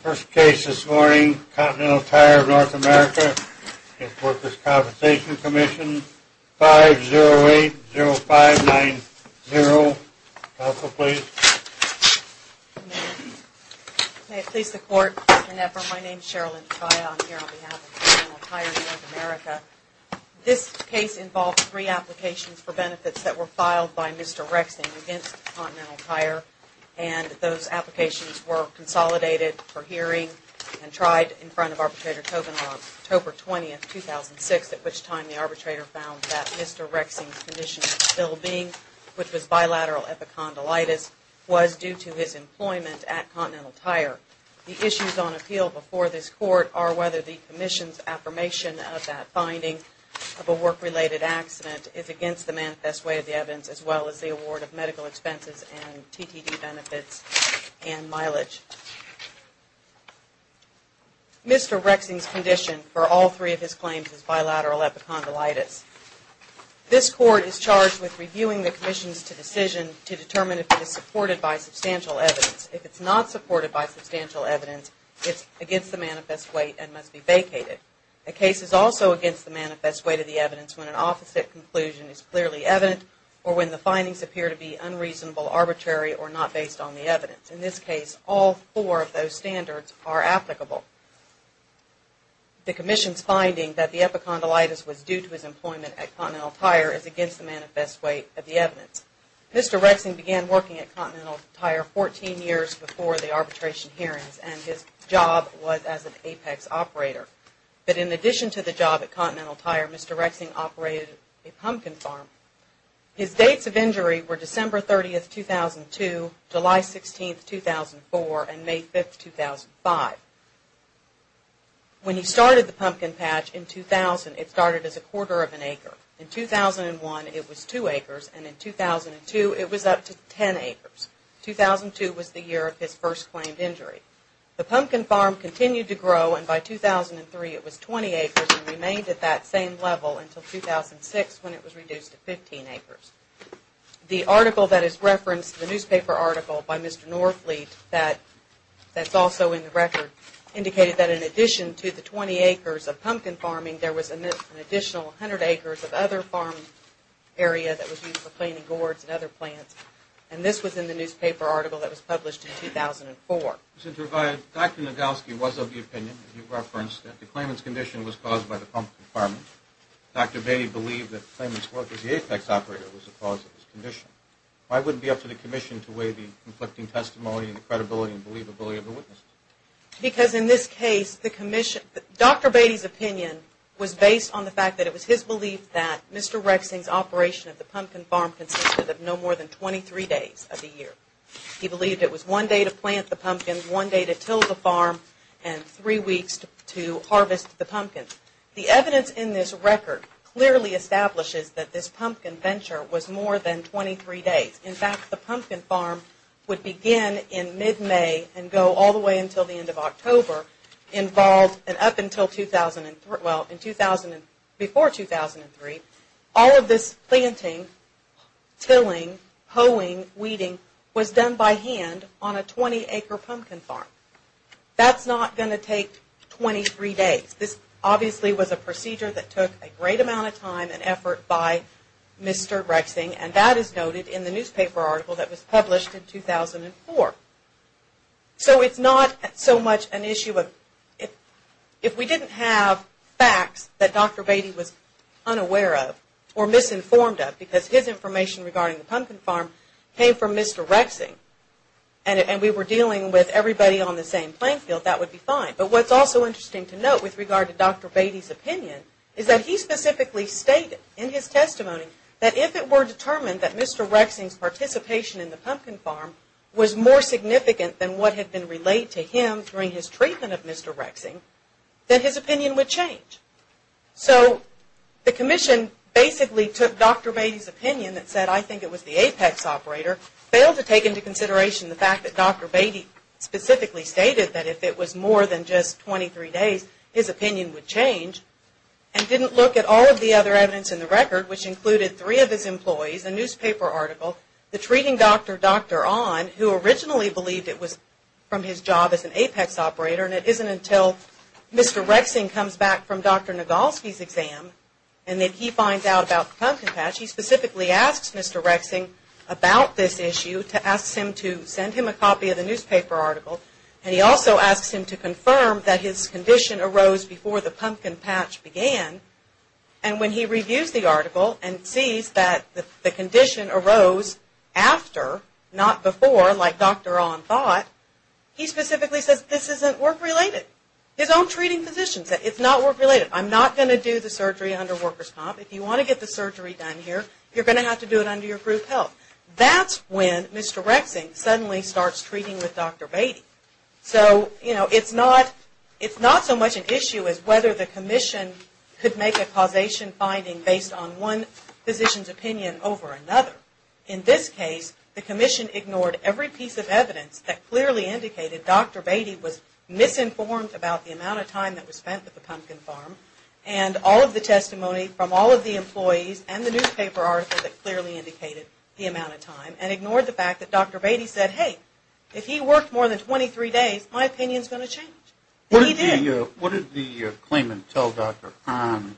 First case this morning, Continental Tire North America v. The Workers' Compensation Commission, 5080590. Counsel, please. May it please the Court, Mr. Knepper. My name is Cheryl Lynch-Biott. I'm here on behalf of Continental Tire North America. This case involved three applications for benefits that were filed by Mr. Rexing against Continental Tire, and those applications were consolidated for hearing and tried in front of Arbitrator Tobin on October 20, 2006, at which time the arbitrator found that Mr. Rexing's condition of well-being, which was bilateral epicondylitis, was due to his employment at Continental Tire. The issues on appeal before this Court are whether the Commission's affirmation of that finding of a work-related accident is against the manifest weight of the evidence, as well as the award of medical expenses and TTD benefits and mileage. Mr. Rexing's condition for all three of his claims is bilateral epicondylitis. This Court is charged with reviewing the Commission's decision to determine if it is supported by substantial evidence. If it's not supported by substantial evidence, it's against the manifest weight and must be vacated. A case is also against the manifest weight of the evidence when an opposite conclusion is clearly evident or when the findings appear to be unreasonable, arbitrary, or not based on the evidence. In this case, all four of those standards are applicable. The Commission's finding that the epicondylitis was due to his employment at Continental Tire is against the manifest weight of the evidence. Mr. Rexing began working at Continental Tire 14 years before the arbitration hearings and his job was as an apex operator. But in addition to the job at Continental Tire, Mr. Rexing operated a pumpkin farm. His dates of injury were December 30, 2002, July 16, 2004, and May 5, 2005. When he started the pumpkin patch in 2000, it started as a quarter of an acre. In 2001, it was two acres and in 2002, it was up to 10 acres. 2002 was the year of his first claimed injury. The pumpkin farm continued to grow and by 2003, it was 20 acres and remained at that same level until 2006 when it was reduced to 15 acres. The article that is referenced in the newspaper article by Mr. Norfleet that's also in the record indicated that in addition to the 20 acres of pumpkin farming, there was an additional 100 acres of other farm area that was used for planting gourds and other plants. And this was in the newspaper article that was published in 2004. Dr. Nadalski was of the opinion, as you referenced, that the claimant's condition was caused by the pumpkin farming. Dr. Bainey believed that the claimant's work as the apex operator was the cause of his condition. Why wouldn't it be up to the Commission to weigh the conflicting testimony and the credibility and believability of the witnesses? Because in this case, Dr. Bainey's opinion was based on the fact that it was his belief that Mr. Rexing's operation of the pumpkin farm consisted of no more than 23 days of the year. He believed it was one day to plant the pumpkins, one day to till the farm, and three weeks to harvest the pumpkins. The evidence in this record clearly establishes that this pumpkin venture was more than 23 days. In fact, the pumpkin farm would begin in mid-May and go all the way until the end of October. And up until 2003, well, before 2003, all of this planting, tilling, hoeing, weeding was done by hand on a 20-acre pumpkin farm. That's not going to take 23 days. This obviously was a procedure that took a great amount of time and effort by Mr. Rexing. And that is noted in the newspaper article that was published in 2004. So it's not so much an issue of, if we didn't have facts that Dr. Bainey was unaware of or misinformed of, because his information regarding the pumpkin farm came from Mr. Rexing and we were dealing with everybody on the same playing field, that would be fine. But what's also interesting to note with regard to Dr. Bainey's opinion is that he specifically stated in his testimony that if it were determined that Mr. Rexing's participation in the pumpkin farm was more significant than what had been relayed to him during his treatment of Mr. Rexing, then his opinion would change. So the commission basically took Dr. Bainey's opinion that said, I think it was the apex operator, failed to take into consideration the fact that Dr. Bainey specifically stated that if it was more than just 23 days, his opinion would change, and didn't look at all of the other evidence in the record, which included three of his employees, a newspaper article, the treating doctor, Dr. Onn, who originally believed it was from his job as an apex operator. And it isn't until Mr. Rexing comes back from Dr. Nagolsky's exam and then he finds out about the pumpkin patch, he specifically asks Mr. Rexing about this issue, asks him to send him a copy of the newspaper article. And he also asks him to confirm that his condition arose before the pumpkin patch began. And when he reviews the article and sees that the condition arose after, not before, like Dr. Onn thought, he specifically says, this isn't work-related. His own treating physician said, it's not work-related. I'm not going to do the surgery under workers' comp. If you want to get the surgery done here, you're going to have to do it under your group health. That's when Mr. Rexing suddenly starts treating with Dr. Beatty. So, you know, it's not so much an issue as whether the commission could make a causation finding based on one physician's opinion over another. In this case, the commission ignored every piece of evidence that clearly indicated Dr. Beatty was misinformed about the amount of time that was spent at the pumpkin farm, and all of the testimony from all of the employees and the newspaper article that clearly indicated the amount of time, and ignored the fact that Dr. Beatty said, hey, if he worked more than 23 days, my opinion's going to change. And he did. What did the claimant tell Dr. Onn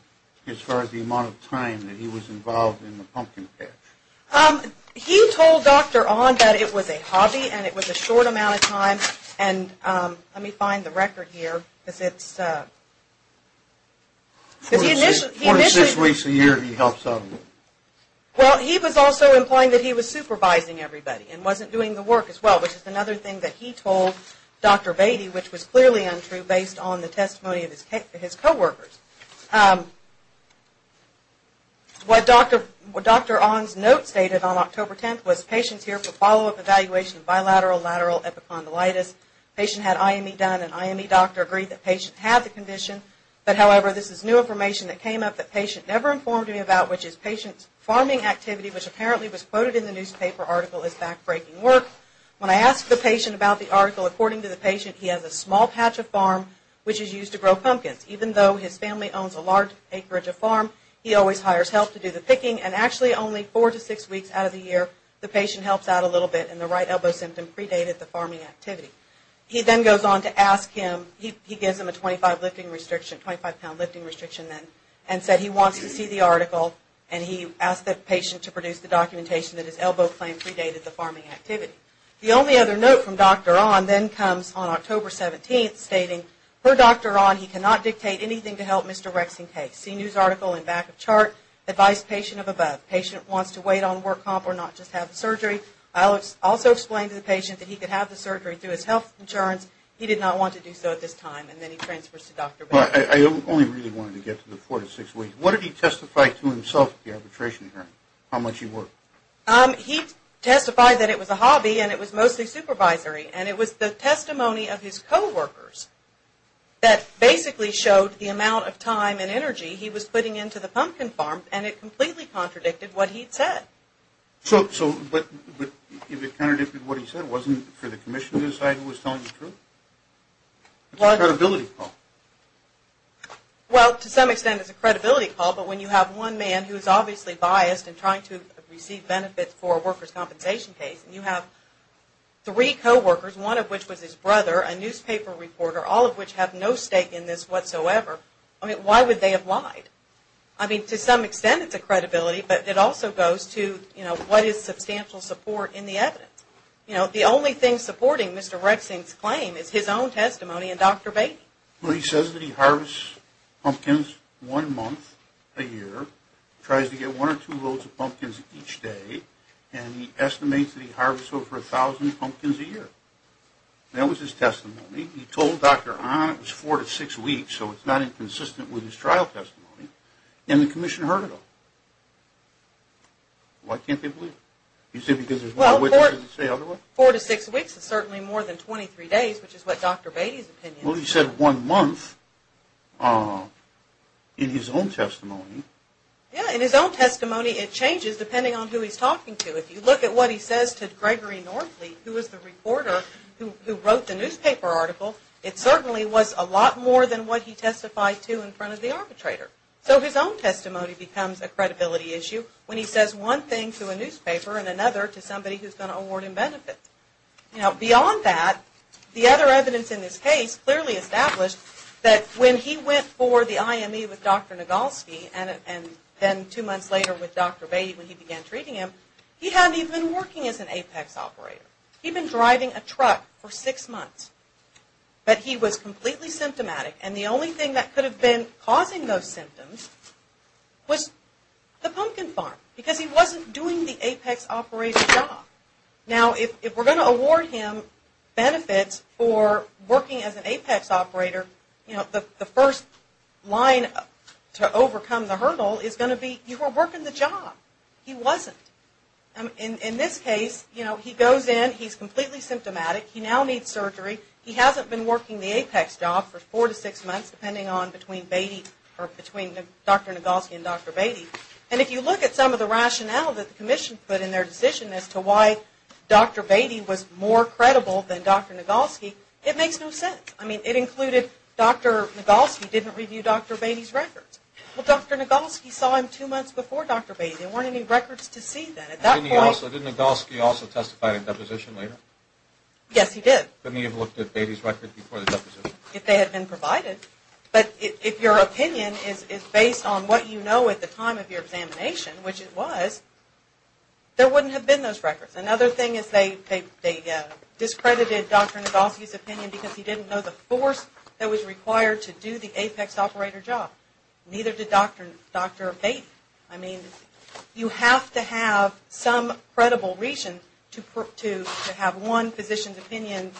as far as the amount of time that he was involved in the pumpkin patch? He told Dr. Onn that it was a hobby and it was a short amount of time, and let me find the record here. Because it's, because he initially, he initially, well, he was also implying that he was supervising everybody and wasn't doing the work as well, which is another thing that he told Dr. Beatty, which was clearly untrue based on the testimony of his co-workers. What Dr. Onn's note stated on October 10th was patients here for follow-up evaluation of bilateral lateral epicondylitis, patient had IME done, and IME doctor agreed that patient had the condition. But, however, this is new information that came up that patient never informed me about, which is patient's farming activity, which apparently was quoted in the newspaper article as back-breaking work. When I asked the patient about the article, according to the patient, he has a small patch of farm, which is used to grow pumpkins. Even though his family owns a large acreage of farm, he always hires help to do the picking, and actually only four to six weeks out of the year the patient helps out a little bit, and the right elbow symptom predated the farming activity. He then goes on to ask him, he gives him a 25-pound lifting restriction then, and said he wants to see the article, and he asked the patient to produce the documentation that his elbow claim predated the farming activity. The only other note from Dr. Onn then comes on October 17th, stating, per Dr. Onn, he cannot dictate anything to help Mr. Rex in case. See news article in back of chart, advise patient of above. Patient wants to wait on work comp, or not just have the surgery. I also explained to the patient that he could have the surgery through his health insurance. He did not want to do so at this time, and then he transfers to Dr. Baker. I only really wanted to get to the four to six weeks. What did he testify to himself at the arbitration hearing? How much he worked. He testified that it was a hobby, and it was mostly supervisory, and it was the testimony of his co-workers that basically showed the amount of time and energy he was putting into the pumpkin farm, and it completely contradicted what he had said. So, but if it contradicted what he said, wasn't it for the commission to decide who was telling the truth? It's a credibility call. Well, to some extent it's a credibility call, but when you have one man who is obviously biased and trying to receive benefits for a worker's compensation case, and you have three co-workers, one of which was his brother, a newspaper reporter, all of which have no stake in this whatsoever. I mean, why would they have lied? I mean, to some extent it's a credibility, but it also goes to, you know, what is substantial support in the evidence? You know, the only thing supporting Mr. Rexing's claim is his own testimony and Dr. Baker. Well, he says that he harvests pumpkins one month a year, tries to get one or two loads of pumpkins each day, and he estimates that he harvests over a thousand pumpkins a year. That was his testimony. He told Dr. Ahn it was four to six weeks, so it's not inconsistent with his trial testimony, and the commission heard it all. Why can't they believe it? You say because there's one witness that doesn't say otherwise? Well, four to six weeks is certainly more than 23 days, which is what Dr. Beatty's opinion is. Well, he said one month in his own testimony. Yeah, in his own testimony it changes depending on who he's talking to. If you look at what he says to Gregory Northley, who was the reporter who wrote the newspaper article, it certainly was a lot more than what he testified to in front of the arbitrator. So his own testimony becomes a credibility issue when he says one thing to a newspaper and another to somebody who's going to award him benefits. Now, beyond that, the other evidence in this case clearly established that when he went for the IME with Dr. Nagolsky and then two months later with Dr. Beatty when he began treating him, he hadn't even been working as an APEX operator. He'd been driving a truck for six months. But he was completely symptomatic, and the only thing that could have been causing those symptoms was the pumpkin farm because he wasn't doing the APEX operator job. Now, if we're going to award him benefits for working as an APEX operator, you know, the first line to overcome the hurdle is going to be you were working the job. He wasn't. In this case, you know, he goes in, he's completely symptomatic, he now needs surgery, he hasn't been working the APEX job for four to six months depending on between Dr. Nagolsky and Dr. Beatty, and if you look at some of the rationale that the commission put in their decision as to why Dr. Beatty was more credible than Dr. Nagolsky, it makes no sense. I mean, it included Dr. Nagolsky didn't review Dr. Beatty's records. Well, Dr. Nagolsky saw him two months before Dr. Beatty. There weren't any records to see that at that point. Didn't Nagolsky also testify at a deposition later? Yes, he did. Couldn't he have looked at Beatty's record before the deposition? If they had been provided. But if your opinion is based on what you know at the time of your examination, which it was, there wouldn't have been those records. Another thing is they discredited Dr. Nagolsky's opinion because he didn't know the force that was required to do the APEX operator job. Neither did Dr. Beatty. I mean, you have to have some credible reason to have one physician's opinion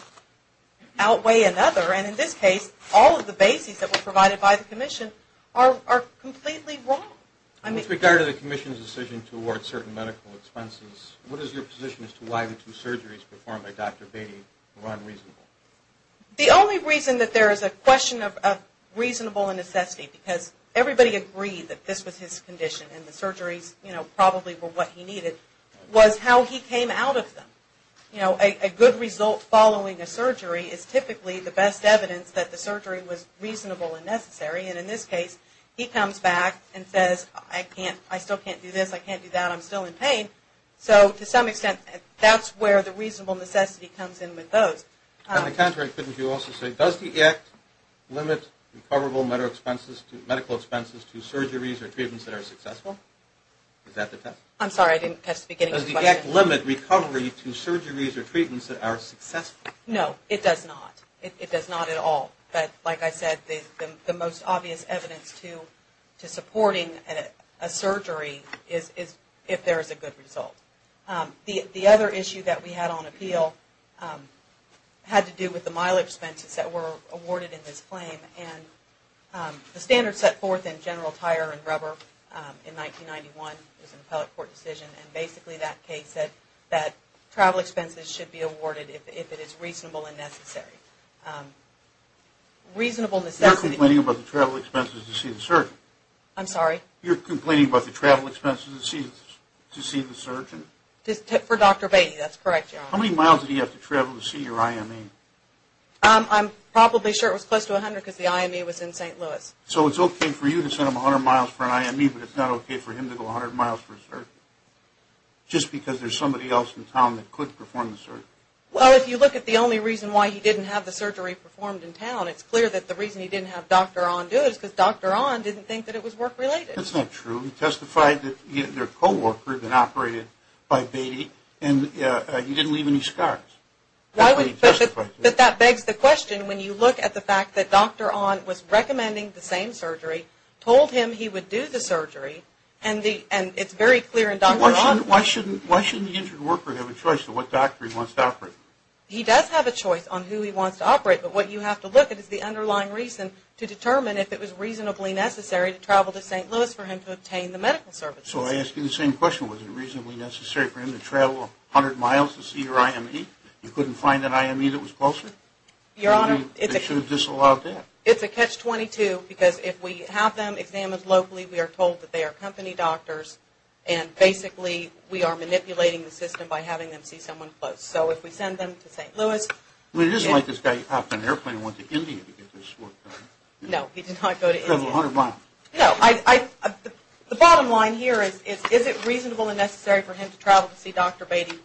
outweigh another, and in this case, all of the bases that were provided by the commission are completely wrong. With regard to the commission's decision to award certain medical expenses, what is your position as to why the two surgeries performed by Dr. Beatty were unreasonable? The only reason that there is a question of reasonable necessity, because everybody agreed that this was his condition and the surgeries, you know, probably were what he needed, was how he came out of them. You know, a good result following a surgery is typically the best evidence that the surgery was reasonable and necessary, and in this case, he comes back and says, I still can't do this, I can't do that, I'm still in pain. So to some extent, that's where the reasonable necessity comes in with those. On the contrary, couldn't you also say, does the act limit recoverable medical expenses to surgeries or treatments that are successful? Is that the test? I'm sorry, I didn't catch the beginning of the question. Does the act limit recovery to surgeries or treatments that are successful? No, it does not. It does not at all. But like I said, the most obvious evidence to supporting a surgery is if there is a good result. The other issue that we had on appeal had to do with the mileage expenses that were awarded in this claim, and the standards set forth in general tire and rubber in 1991, it was an appellate court decision, and basically that case said that travel expenses should be awarded if it is reasonable and necessary. You're complaining about the travel expenses to see the surgeon? I'm sorry? You're complaining about the travel expenses to see the surgeon? For Dr. Beatty, that's correct. How many miles did he have to travel to see your IME? I'm probably sure it was close to 100 because the IME was in St. Louis. So it's okay for you to send him 100 miles for an IME, but it's not okay for him to go 100 miles for a surgery, just because there's somebody else in town that could perform the surgery? Well, if you look at the only reason why he didn't have the surgery performed in town, it's clear that the reason he didn't have Dr. On do it is because Dr. On didn't think that it was work-related. That's not true. He testified that their co-worker had been operated by Beatty, and he didn't leave any scars. But that begs the question. When you look at the fact that Dr. On was recommending the same surgery, told him he would do the surgery, and it's very clear in Dr. On. Why shouldn't the injured worker have a choice of what doctor he wants to operate? He does have a choice on who he wants to operate, but what you have to look at is the underlying reason to determine if it was reasonably necessary to travel to St. Louis for him to obtain the medical services. So I ask you the same question. Was it reasonably necessary for him to travel 100 miles to see your IME? You couldn't find an IME that was closer? Your Honor, it's a catch-22. Because if we have them examined locally, we are told that they are company doctors, and basically we are manipulating the system by having them see someone close. So if we send them to St. Louis. It isn't like this guy got off an airplane and went to India to get this work done. No, he did not go to India. No. The bottom line here is, is it reasonable and necessary for him to travel to see Dr. Beatty?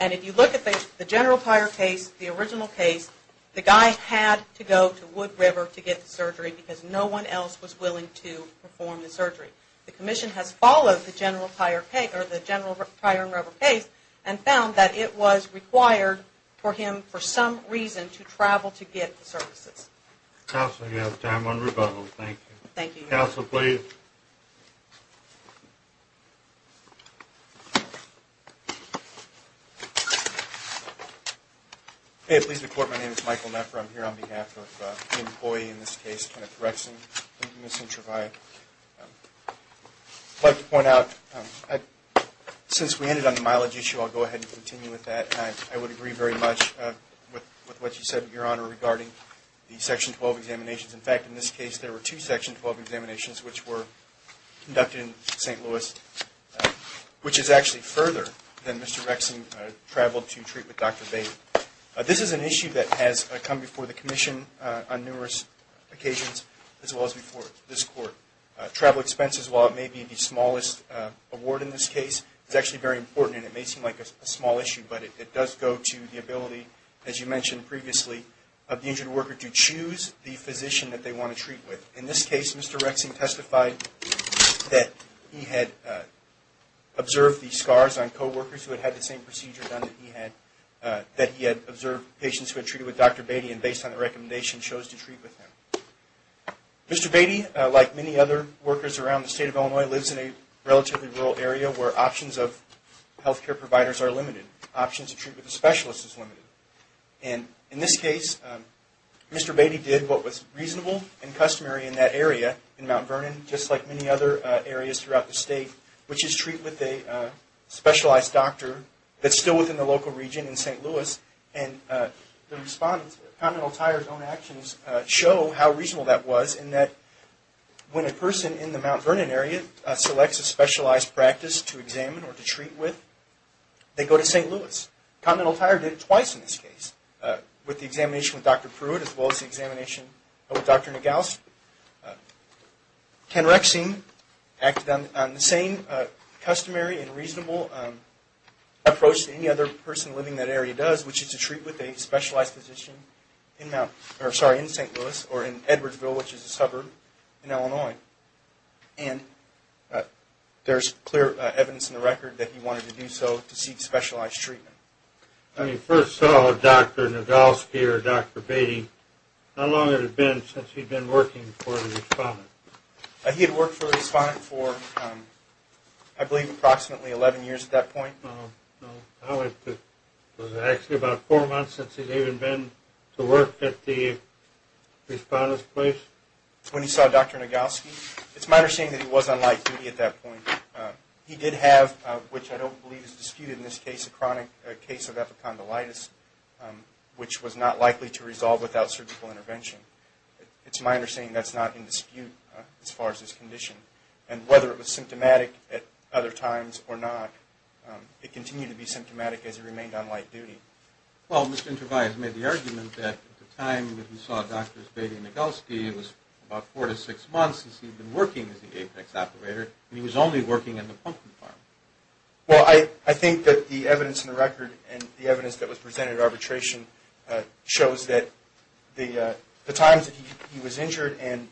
And if you look at the general prior case, the original case, the guy had to go to Wood River to get the surgery because no one else was willing to perform the surgery. The commission has followed the general prior case and found that it was required for him, for some reason, to travel to get the services. Counsel, you have time on rebuttal. Thank you. Thank you, Your Honor. Counsel, please. May it please the Court, my name is Michael Meffer. I'm here on behalf of the employee in this case, Kenneth Rexen. I'd like to point out, since we ended on the mileage issue, I'll go ahead and continue with that. I would agree very much with what you said, Your Honor, regarding the Section 12 examinations. In fact, in this case, there were two Section 12 examinations which were conducted in St. Louis, which is actually further than Mr. Rexen traveled to treat with Dr. Beatty. This is an issue that has come before the commission on numerous occasions, as well as before this Court. Travel expenses, while it may be the smallest award in this case, is actually very important, and it may seem like a small issue, but it does go to the ability, as you mentioned previously, of the injured worker to choose the physician that they want to treat with. In this case, Mr. Rexen testified that he had observed the scars on co-workers who had had the same procedure done that he had, that he had observed patients who had treated with Dr. Beatty, and based on the recommendation, chose to treat with him. Mr. Beatty, like many other workers around the State of Illinois, lives in a relatively rural area where options of health care providers are limited. Options to treat with a specialist is limited. And in this case, Mr. Beatty did what was reasonable and customary in that area, in Mount Vernon, just like many other areas throughout the State, which is treat with a specialized doctor that's still within the local region in St. Louis. And the respondents, Continental Tire's own actions, show how reasonable that was, in that when a person in the Mount Vernon area selects a specialized practice to examine or to treat with, they go to St. Louis. Continental Tire did it twice in this case, with the examination with Dr. Pruitt, as well as the examination with Dr. Nagaus. Ken Rexen acted on the same customary and reasonable approach that any other person living in that area does, which is to treat with a specialized physician in St. Louis, or in Edwardsville, which is a suburb in Illinois. And there's clear evidence in the record that he wanted to do so to seek specialized treatment. When you first saw Dr. Nagauski or Dr. Beatty, how long had it been since he'd been working for a respondent? He had worked for a respondent for, I believe, approximately 11 years at that point. Was it actually about four months since he'd even been to work at the respondent's place? When he saw Dr. Nagauski, it's my understanding that he was on light duty at that point. He did have, which I don't believe is disputed in this case, a chronic case of epicondylitis, which was not likely to resolve without surgical intervention. It's my understanding that's not in dispute as far as his condition. And whether it was symptomatic at other times or not, it continued to be symptomatic as he remained on light duty. Well, Mr. Intervalli has made the argument that at the time when he saw Drs. Beatty and Nagauski, it was about four to six months since he'd been working as the APEX operator, and he was only working at the pumpkin farm. Well, I think that the evidence in the record and the evidence that was presented at arbitration shows that the times that he was injured and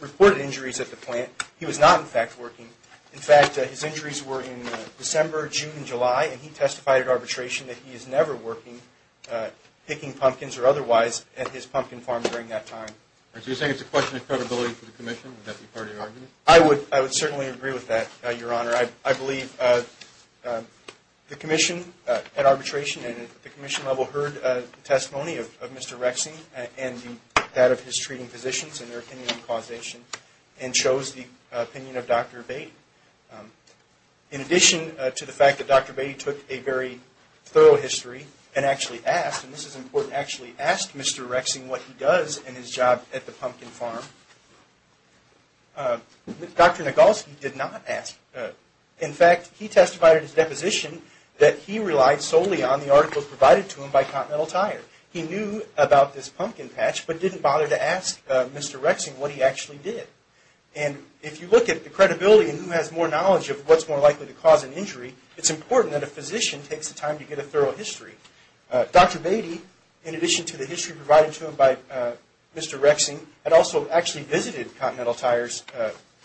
reported injuries at the plant, he was not, in fact, working. In fact, his injuries were in December, June, and July, and he testified at arbitration that he is never working, picking pumpkins or otherwise, at his pumpkin farm during that time. So you're saying it's a question of credibility for the commission? Would that be part of your argument? I would certainly agree with that, Your Honor. I believe the commission at arbitration and at the commission level heard testimony of Mr. Rexine and that of his treating physicians and their opinion on causation and chose the opinion of Dr. Beatty. In addition to the fact that Dr. Beatty took a very thorough history and actually asked, and this is important, actually asked Mr. Rexine what he does in his job at the pumpkin farm, Dr. Nagauski did not ask. In fact, he testified at his deposition that he relied solely on the articles provided to him by Continental Tire. He knew about this pumpkin patch, but didn't bother to ask Mr. Rexine what he actually did. And if you look at the credibility and who has more knowledge of what's more likely to cause an injury, it's important that a physician takes the time to get a thorough history. Dr. Beatty, in addition to the history provided to him by Mr. Rexine, had also actually visited Continental Tire's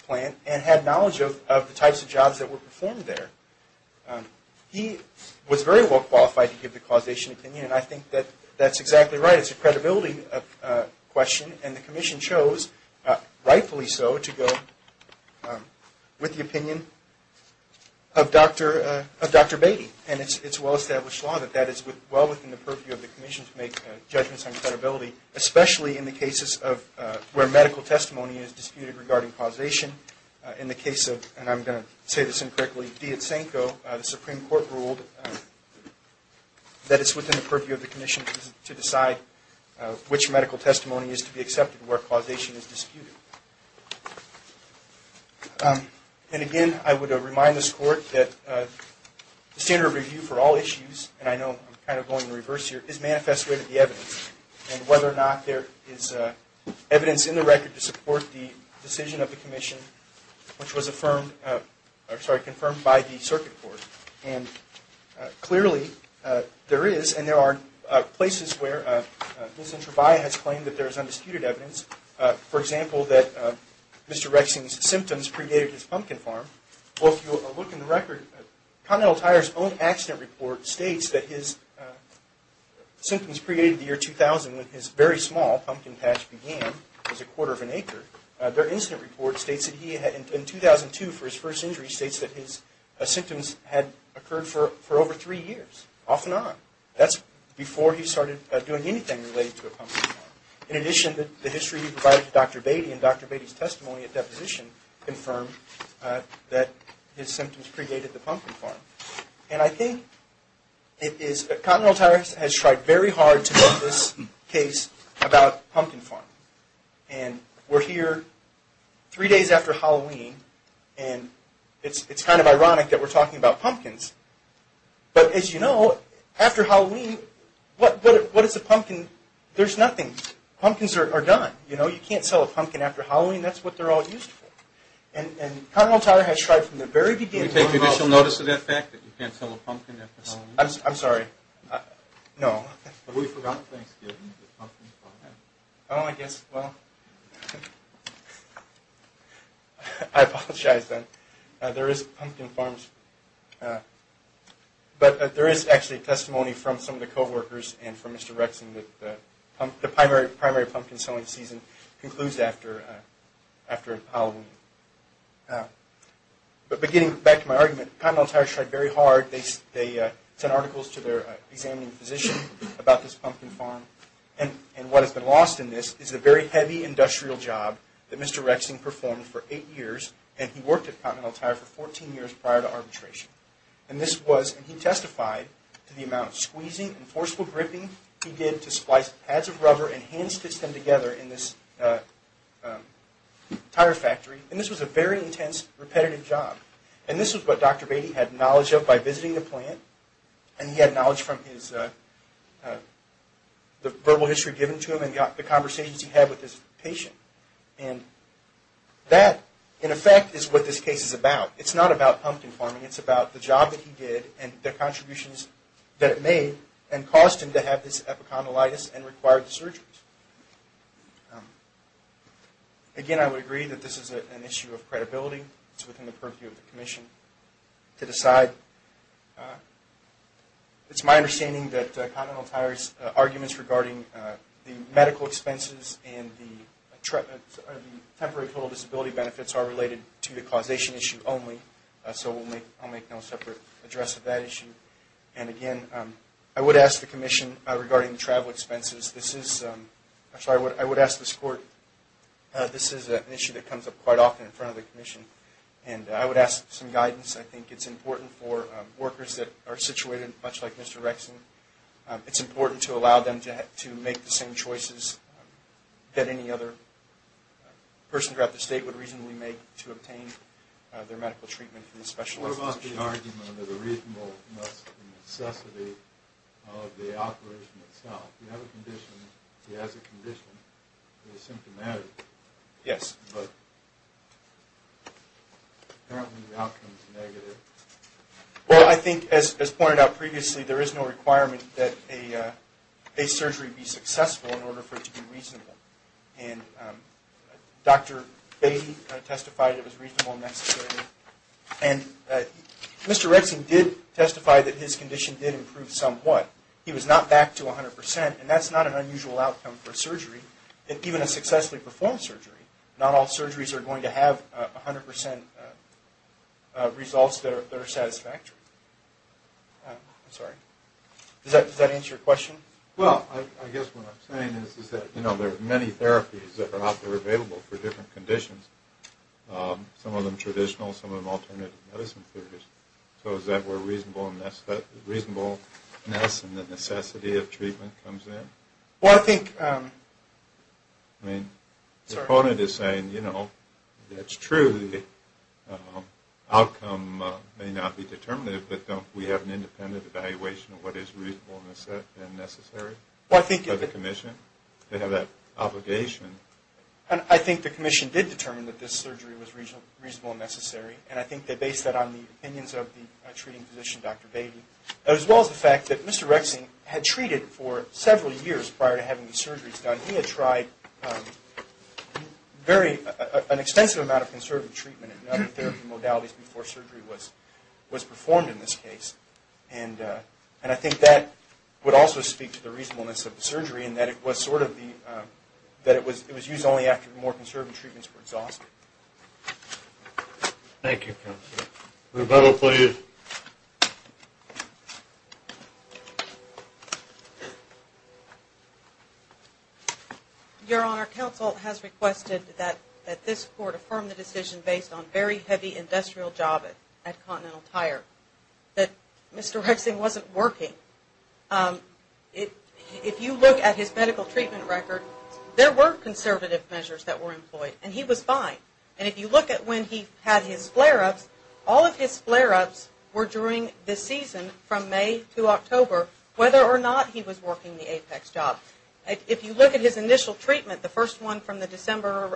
plant and had knowledge of the types of jobs that were performed there. He was very well qualified to give the causation opinion, and I think that that's exactly right. That is a credibility question, and the Commission chose, rightfully so, to go with the opinion of Dr. Beatty. And it's well-established law that that is well within the purview of the Commission to make judgments on credibility, especially in the cases where medical testimony is disputed regarding causation. In the case of, and I'm going to say this incorrectly, Dietzenko, the Supreme Court ruled that it's within the purview of the Commission to decide which medical testimony is to be accepted where causation is disputed. And again, I would remind this Court that the standard of review for all issues, and I know I'm kind of going in reverse here, is manifest way to the evidence. And whether or not there is evidence in the record to support the decision of the Commission, which was confirmed by the Circuit Court. And clearly there is, and there are places where Mr. Trebia has claimed that there is undisputed evidence. For example, that Mr. Rexing's symptoms predated his pumpkin farm. Well, if you look in the record, Continental Tire's own accident report states that his symptoms predated the year 2000 when his very small pumpkin patch began. It was a quarter of an acre. Their incident report states that he had, in 2002 for his first injury, states that his symptoms had occurred for over three years, off and on. That's before he started doing anything related to a pumpkin farm. In addition, the history he provided to Dr. Beatty and Dr. Beatty's testimony at deposition confirmed that his symptoms predated the pumpkin farm. And I think it is, Continental Tire has tried very hard to make this case about pumpkin farm. And we're here three days after Halloween, and it's kind of ironic that we're talking about pumpkins. But as you know, after Halloween, what is a pumpkin? There's nothing. Pumpkins are done. You know, you can't sell a pumpkin after Halloween. That's what they're all used for. And Continental Tire has tried from the very beginning. Did you take additional notice of that fact, that you can't sell a pumpkin after Halloween? I'm sorry. No. Have we forgotten Thanksgiving? Oh, I guess. Well, I apologize then. There is pumpkin farms. But there is actually testimony from some of the coworkers and from Mr. Rexon that the primary pumpkin selling season concludes after Halloween. But getting back to my argument, Continental Tire has tried very hard. They sent articles to their examining physician about this pumpkin farm. And what has been lost in this is a very heavy industrial job that Mr. Rexon performed for eight years. And he worked at Continental Tire for 14 years prior to arbitration. And this was, and he testified to the amount of squeezing and forceful gripping he did to splice pads of rubber and hand stitch them together in this tire factory. And this was a very intense, repetitive job. And this is what Dr. Beatty had knowledge of by visiting the plant. And he had knowledge from the verbal history given to him and the conversations he had with his patient. And that, in effect, is what this case is about. It's not about pumpkin farming. It's about the job that he did and the contributions that it made and caused him to have this epicondylitis and required surgeries. Again, I would agree that this is an issue of credibility. It's within the purview of the commission to decide. It's my understanding that Continental Tire's arguments regarding the medical expenses and the temporary total disability benefits are related to the causation issue only. So I'll make no separate address of that issue. And again, I would ask the commission regarding travel expenses. Actually, I would ask this court. This is an issue that comes up quite often in front of the commission. And I would ask some guidance. I think it's important for workers that are situated much like Mr. Rexon. It's important to allow them to make the same choices that any other person throughout the state would reasonably make to obtain their medical treatment from a specialized physician. What about the argument of the reasonableness and necessity of the operation itself? You have a condition. He has a condition. He's symptomatic. Yes. But apparently the outcome is negative. Well, I think, as pointed out previously, there is no requirement that a surgery be successful in order for it to be reasonable. And Dr. Baty testified it was reasonable and necessary. And Mr. Rexon did testify that his condition did improve somewhat. He was not back to 100 percent, and that's not an unusual outcome for surgery. Even a successfully performed surgery, not all surgeries are going to have 100 percent results that are satisfactory. I'm sorry. Does that answer your question? Well, I guess what I'm saying is that, you know, there are many therapies that are out there available for different conditions, some of them traditional, some of them alternative medicine therapies. So is that where reasonableness and the necessity of treatment comes in? Well, I think, I mean, the opponent is saying, you know, it's true, the outcome may not be determinative, but we have an independent evaluation of what is reasonable and necessary by the commission. They have that obligation. And I think the commission did determine that this surgery was reasonable and necessary, and I think they based that on the opinions of the treating physician, Dr. Baty, as well as the fact that Mr. Rexon had treated for several years prior to having these surgeries done. He had tried very, an extensive amount of conservative treatment and other therapy modalities before surgery was performed in this case. And I think that would also speak to the reasonableness of the surgery, in that it was sort of the, that it was used only after more conservative treatments were exhausted. Thank you, counsel. Rebecca, please. Your Honor, counsel has requested that this court affirm the decision based on very heavy industrial job at Continental Tire, that Mr. Rexon wasn't working. If you look at his medical treatment record, there were conservative measures that were employed, and he was fine. And if you look at when he had his flare-ups, all of his flare-ups were during the season from May to October, whether or not he was working the apex job. If you look at his initial treatment, the first one from the December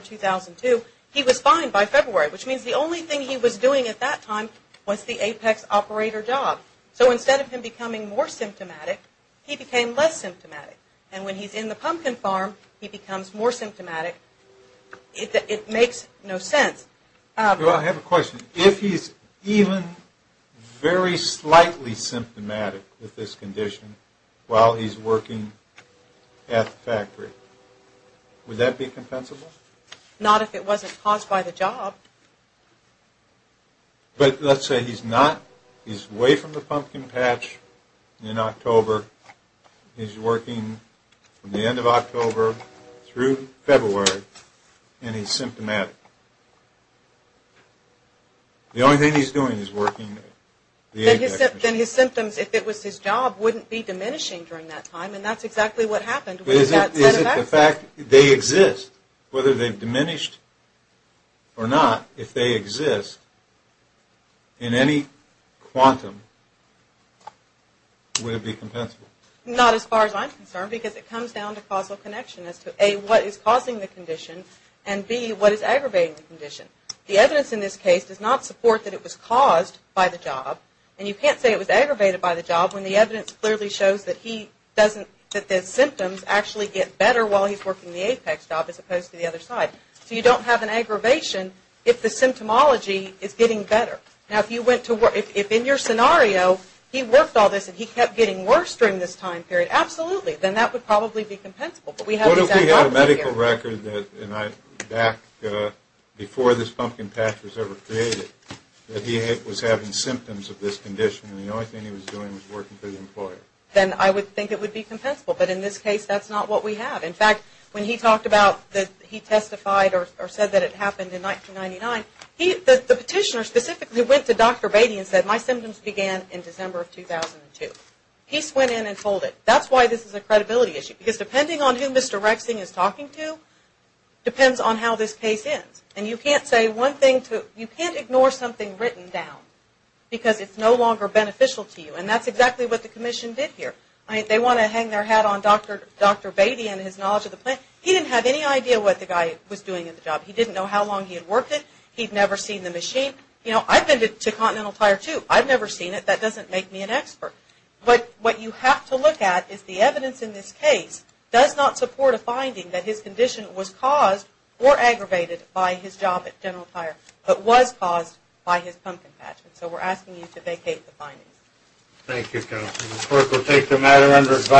2002, he was fine by February, which means the only thing he was doing at that time was the apex operator job. So instead of him becoming more symptomatic, he became less symptomatic. And when he's in the pumpkin farm, he becomes more symptomatic. It makes no sense. I have a question. If he's even very slightly symptomatic with this condition while he's working at the factory, would that be compensable? Not if it wasn't caused by the job. But let's say he's not. He's away from the pumpkin patch in October. He's working from the end of October through February, and he's symptomatic. The only thing he's doing is working the apex. Then his symptoms, if it was his job, wouldn't be diminishing during that time, and that's exactly what happened. Is it the fact they exist, whether they've diminished or not, if they exist in any quantum, would it be compensable? Not as far as I'm concerned, because it comes down to causal connection as to, A, what is causing the condition, and, B, what is aggravating the condition. The evidence in this case does not support that it was caused by the job. And you can't say it was aggravated by the job when the evidence clearly shows that he doesn't, that the symptoms actually get better while he's working the apex job as opposed to the other side. So you don't have an aggravation if the symptomology is getting better. Now, if in your scenario he worked all this and he kept getting worse during this time period, absolutely. Then that would probably be compensable. What if we had a medical record back before this pumpkin patch was ever created, that he was having symptoms of this condition and the only thing he was doing was working for the employer? Then I would think it would be compensable. But in this case, that's not what we have. In fact, when he talked about that he testified or said that it happened in 1999, the petitioner specifically went to Dr. Beatty and said, my symptoms began in December of 2002. He went in and told it. That's why this is a credibility issue. Because depending on who Mr. Rexing is talking to, depends on how this case ends. And you can't say one thing to, you can't ignore something written down. Because it's no longer beneficial to you. And that's exactly what the commission did here. They want to hang their hat on Dr. Beatty and his knowledge of the plant. He didn't have any idea what the guy was doing in the job. He didn't know how long he had worked it. He'd never seen the machine. You know, I've been to Continental Tire too. I've never seen it. That doesn't make me an expert. But what you have to look at is the evidence in this case does not support a finding that his condition was caused or aggravated by his job at General Tire, but was caused by his pumpkin patch. And so we're asking you to vacate the findings. Thank you, counsel. The clerk will take the matter under advisory.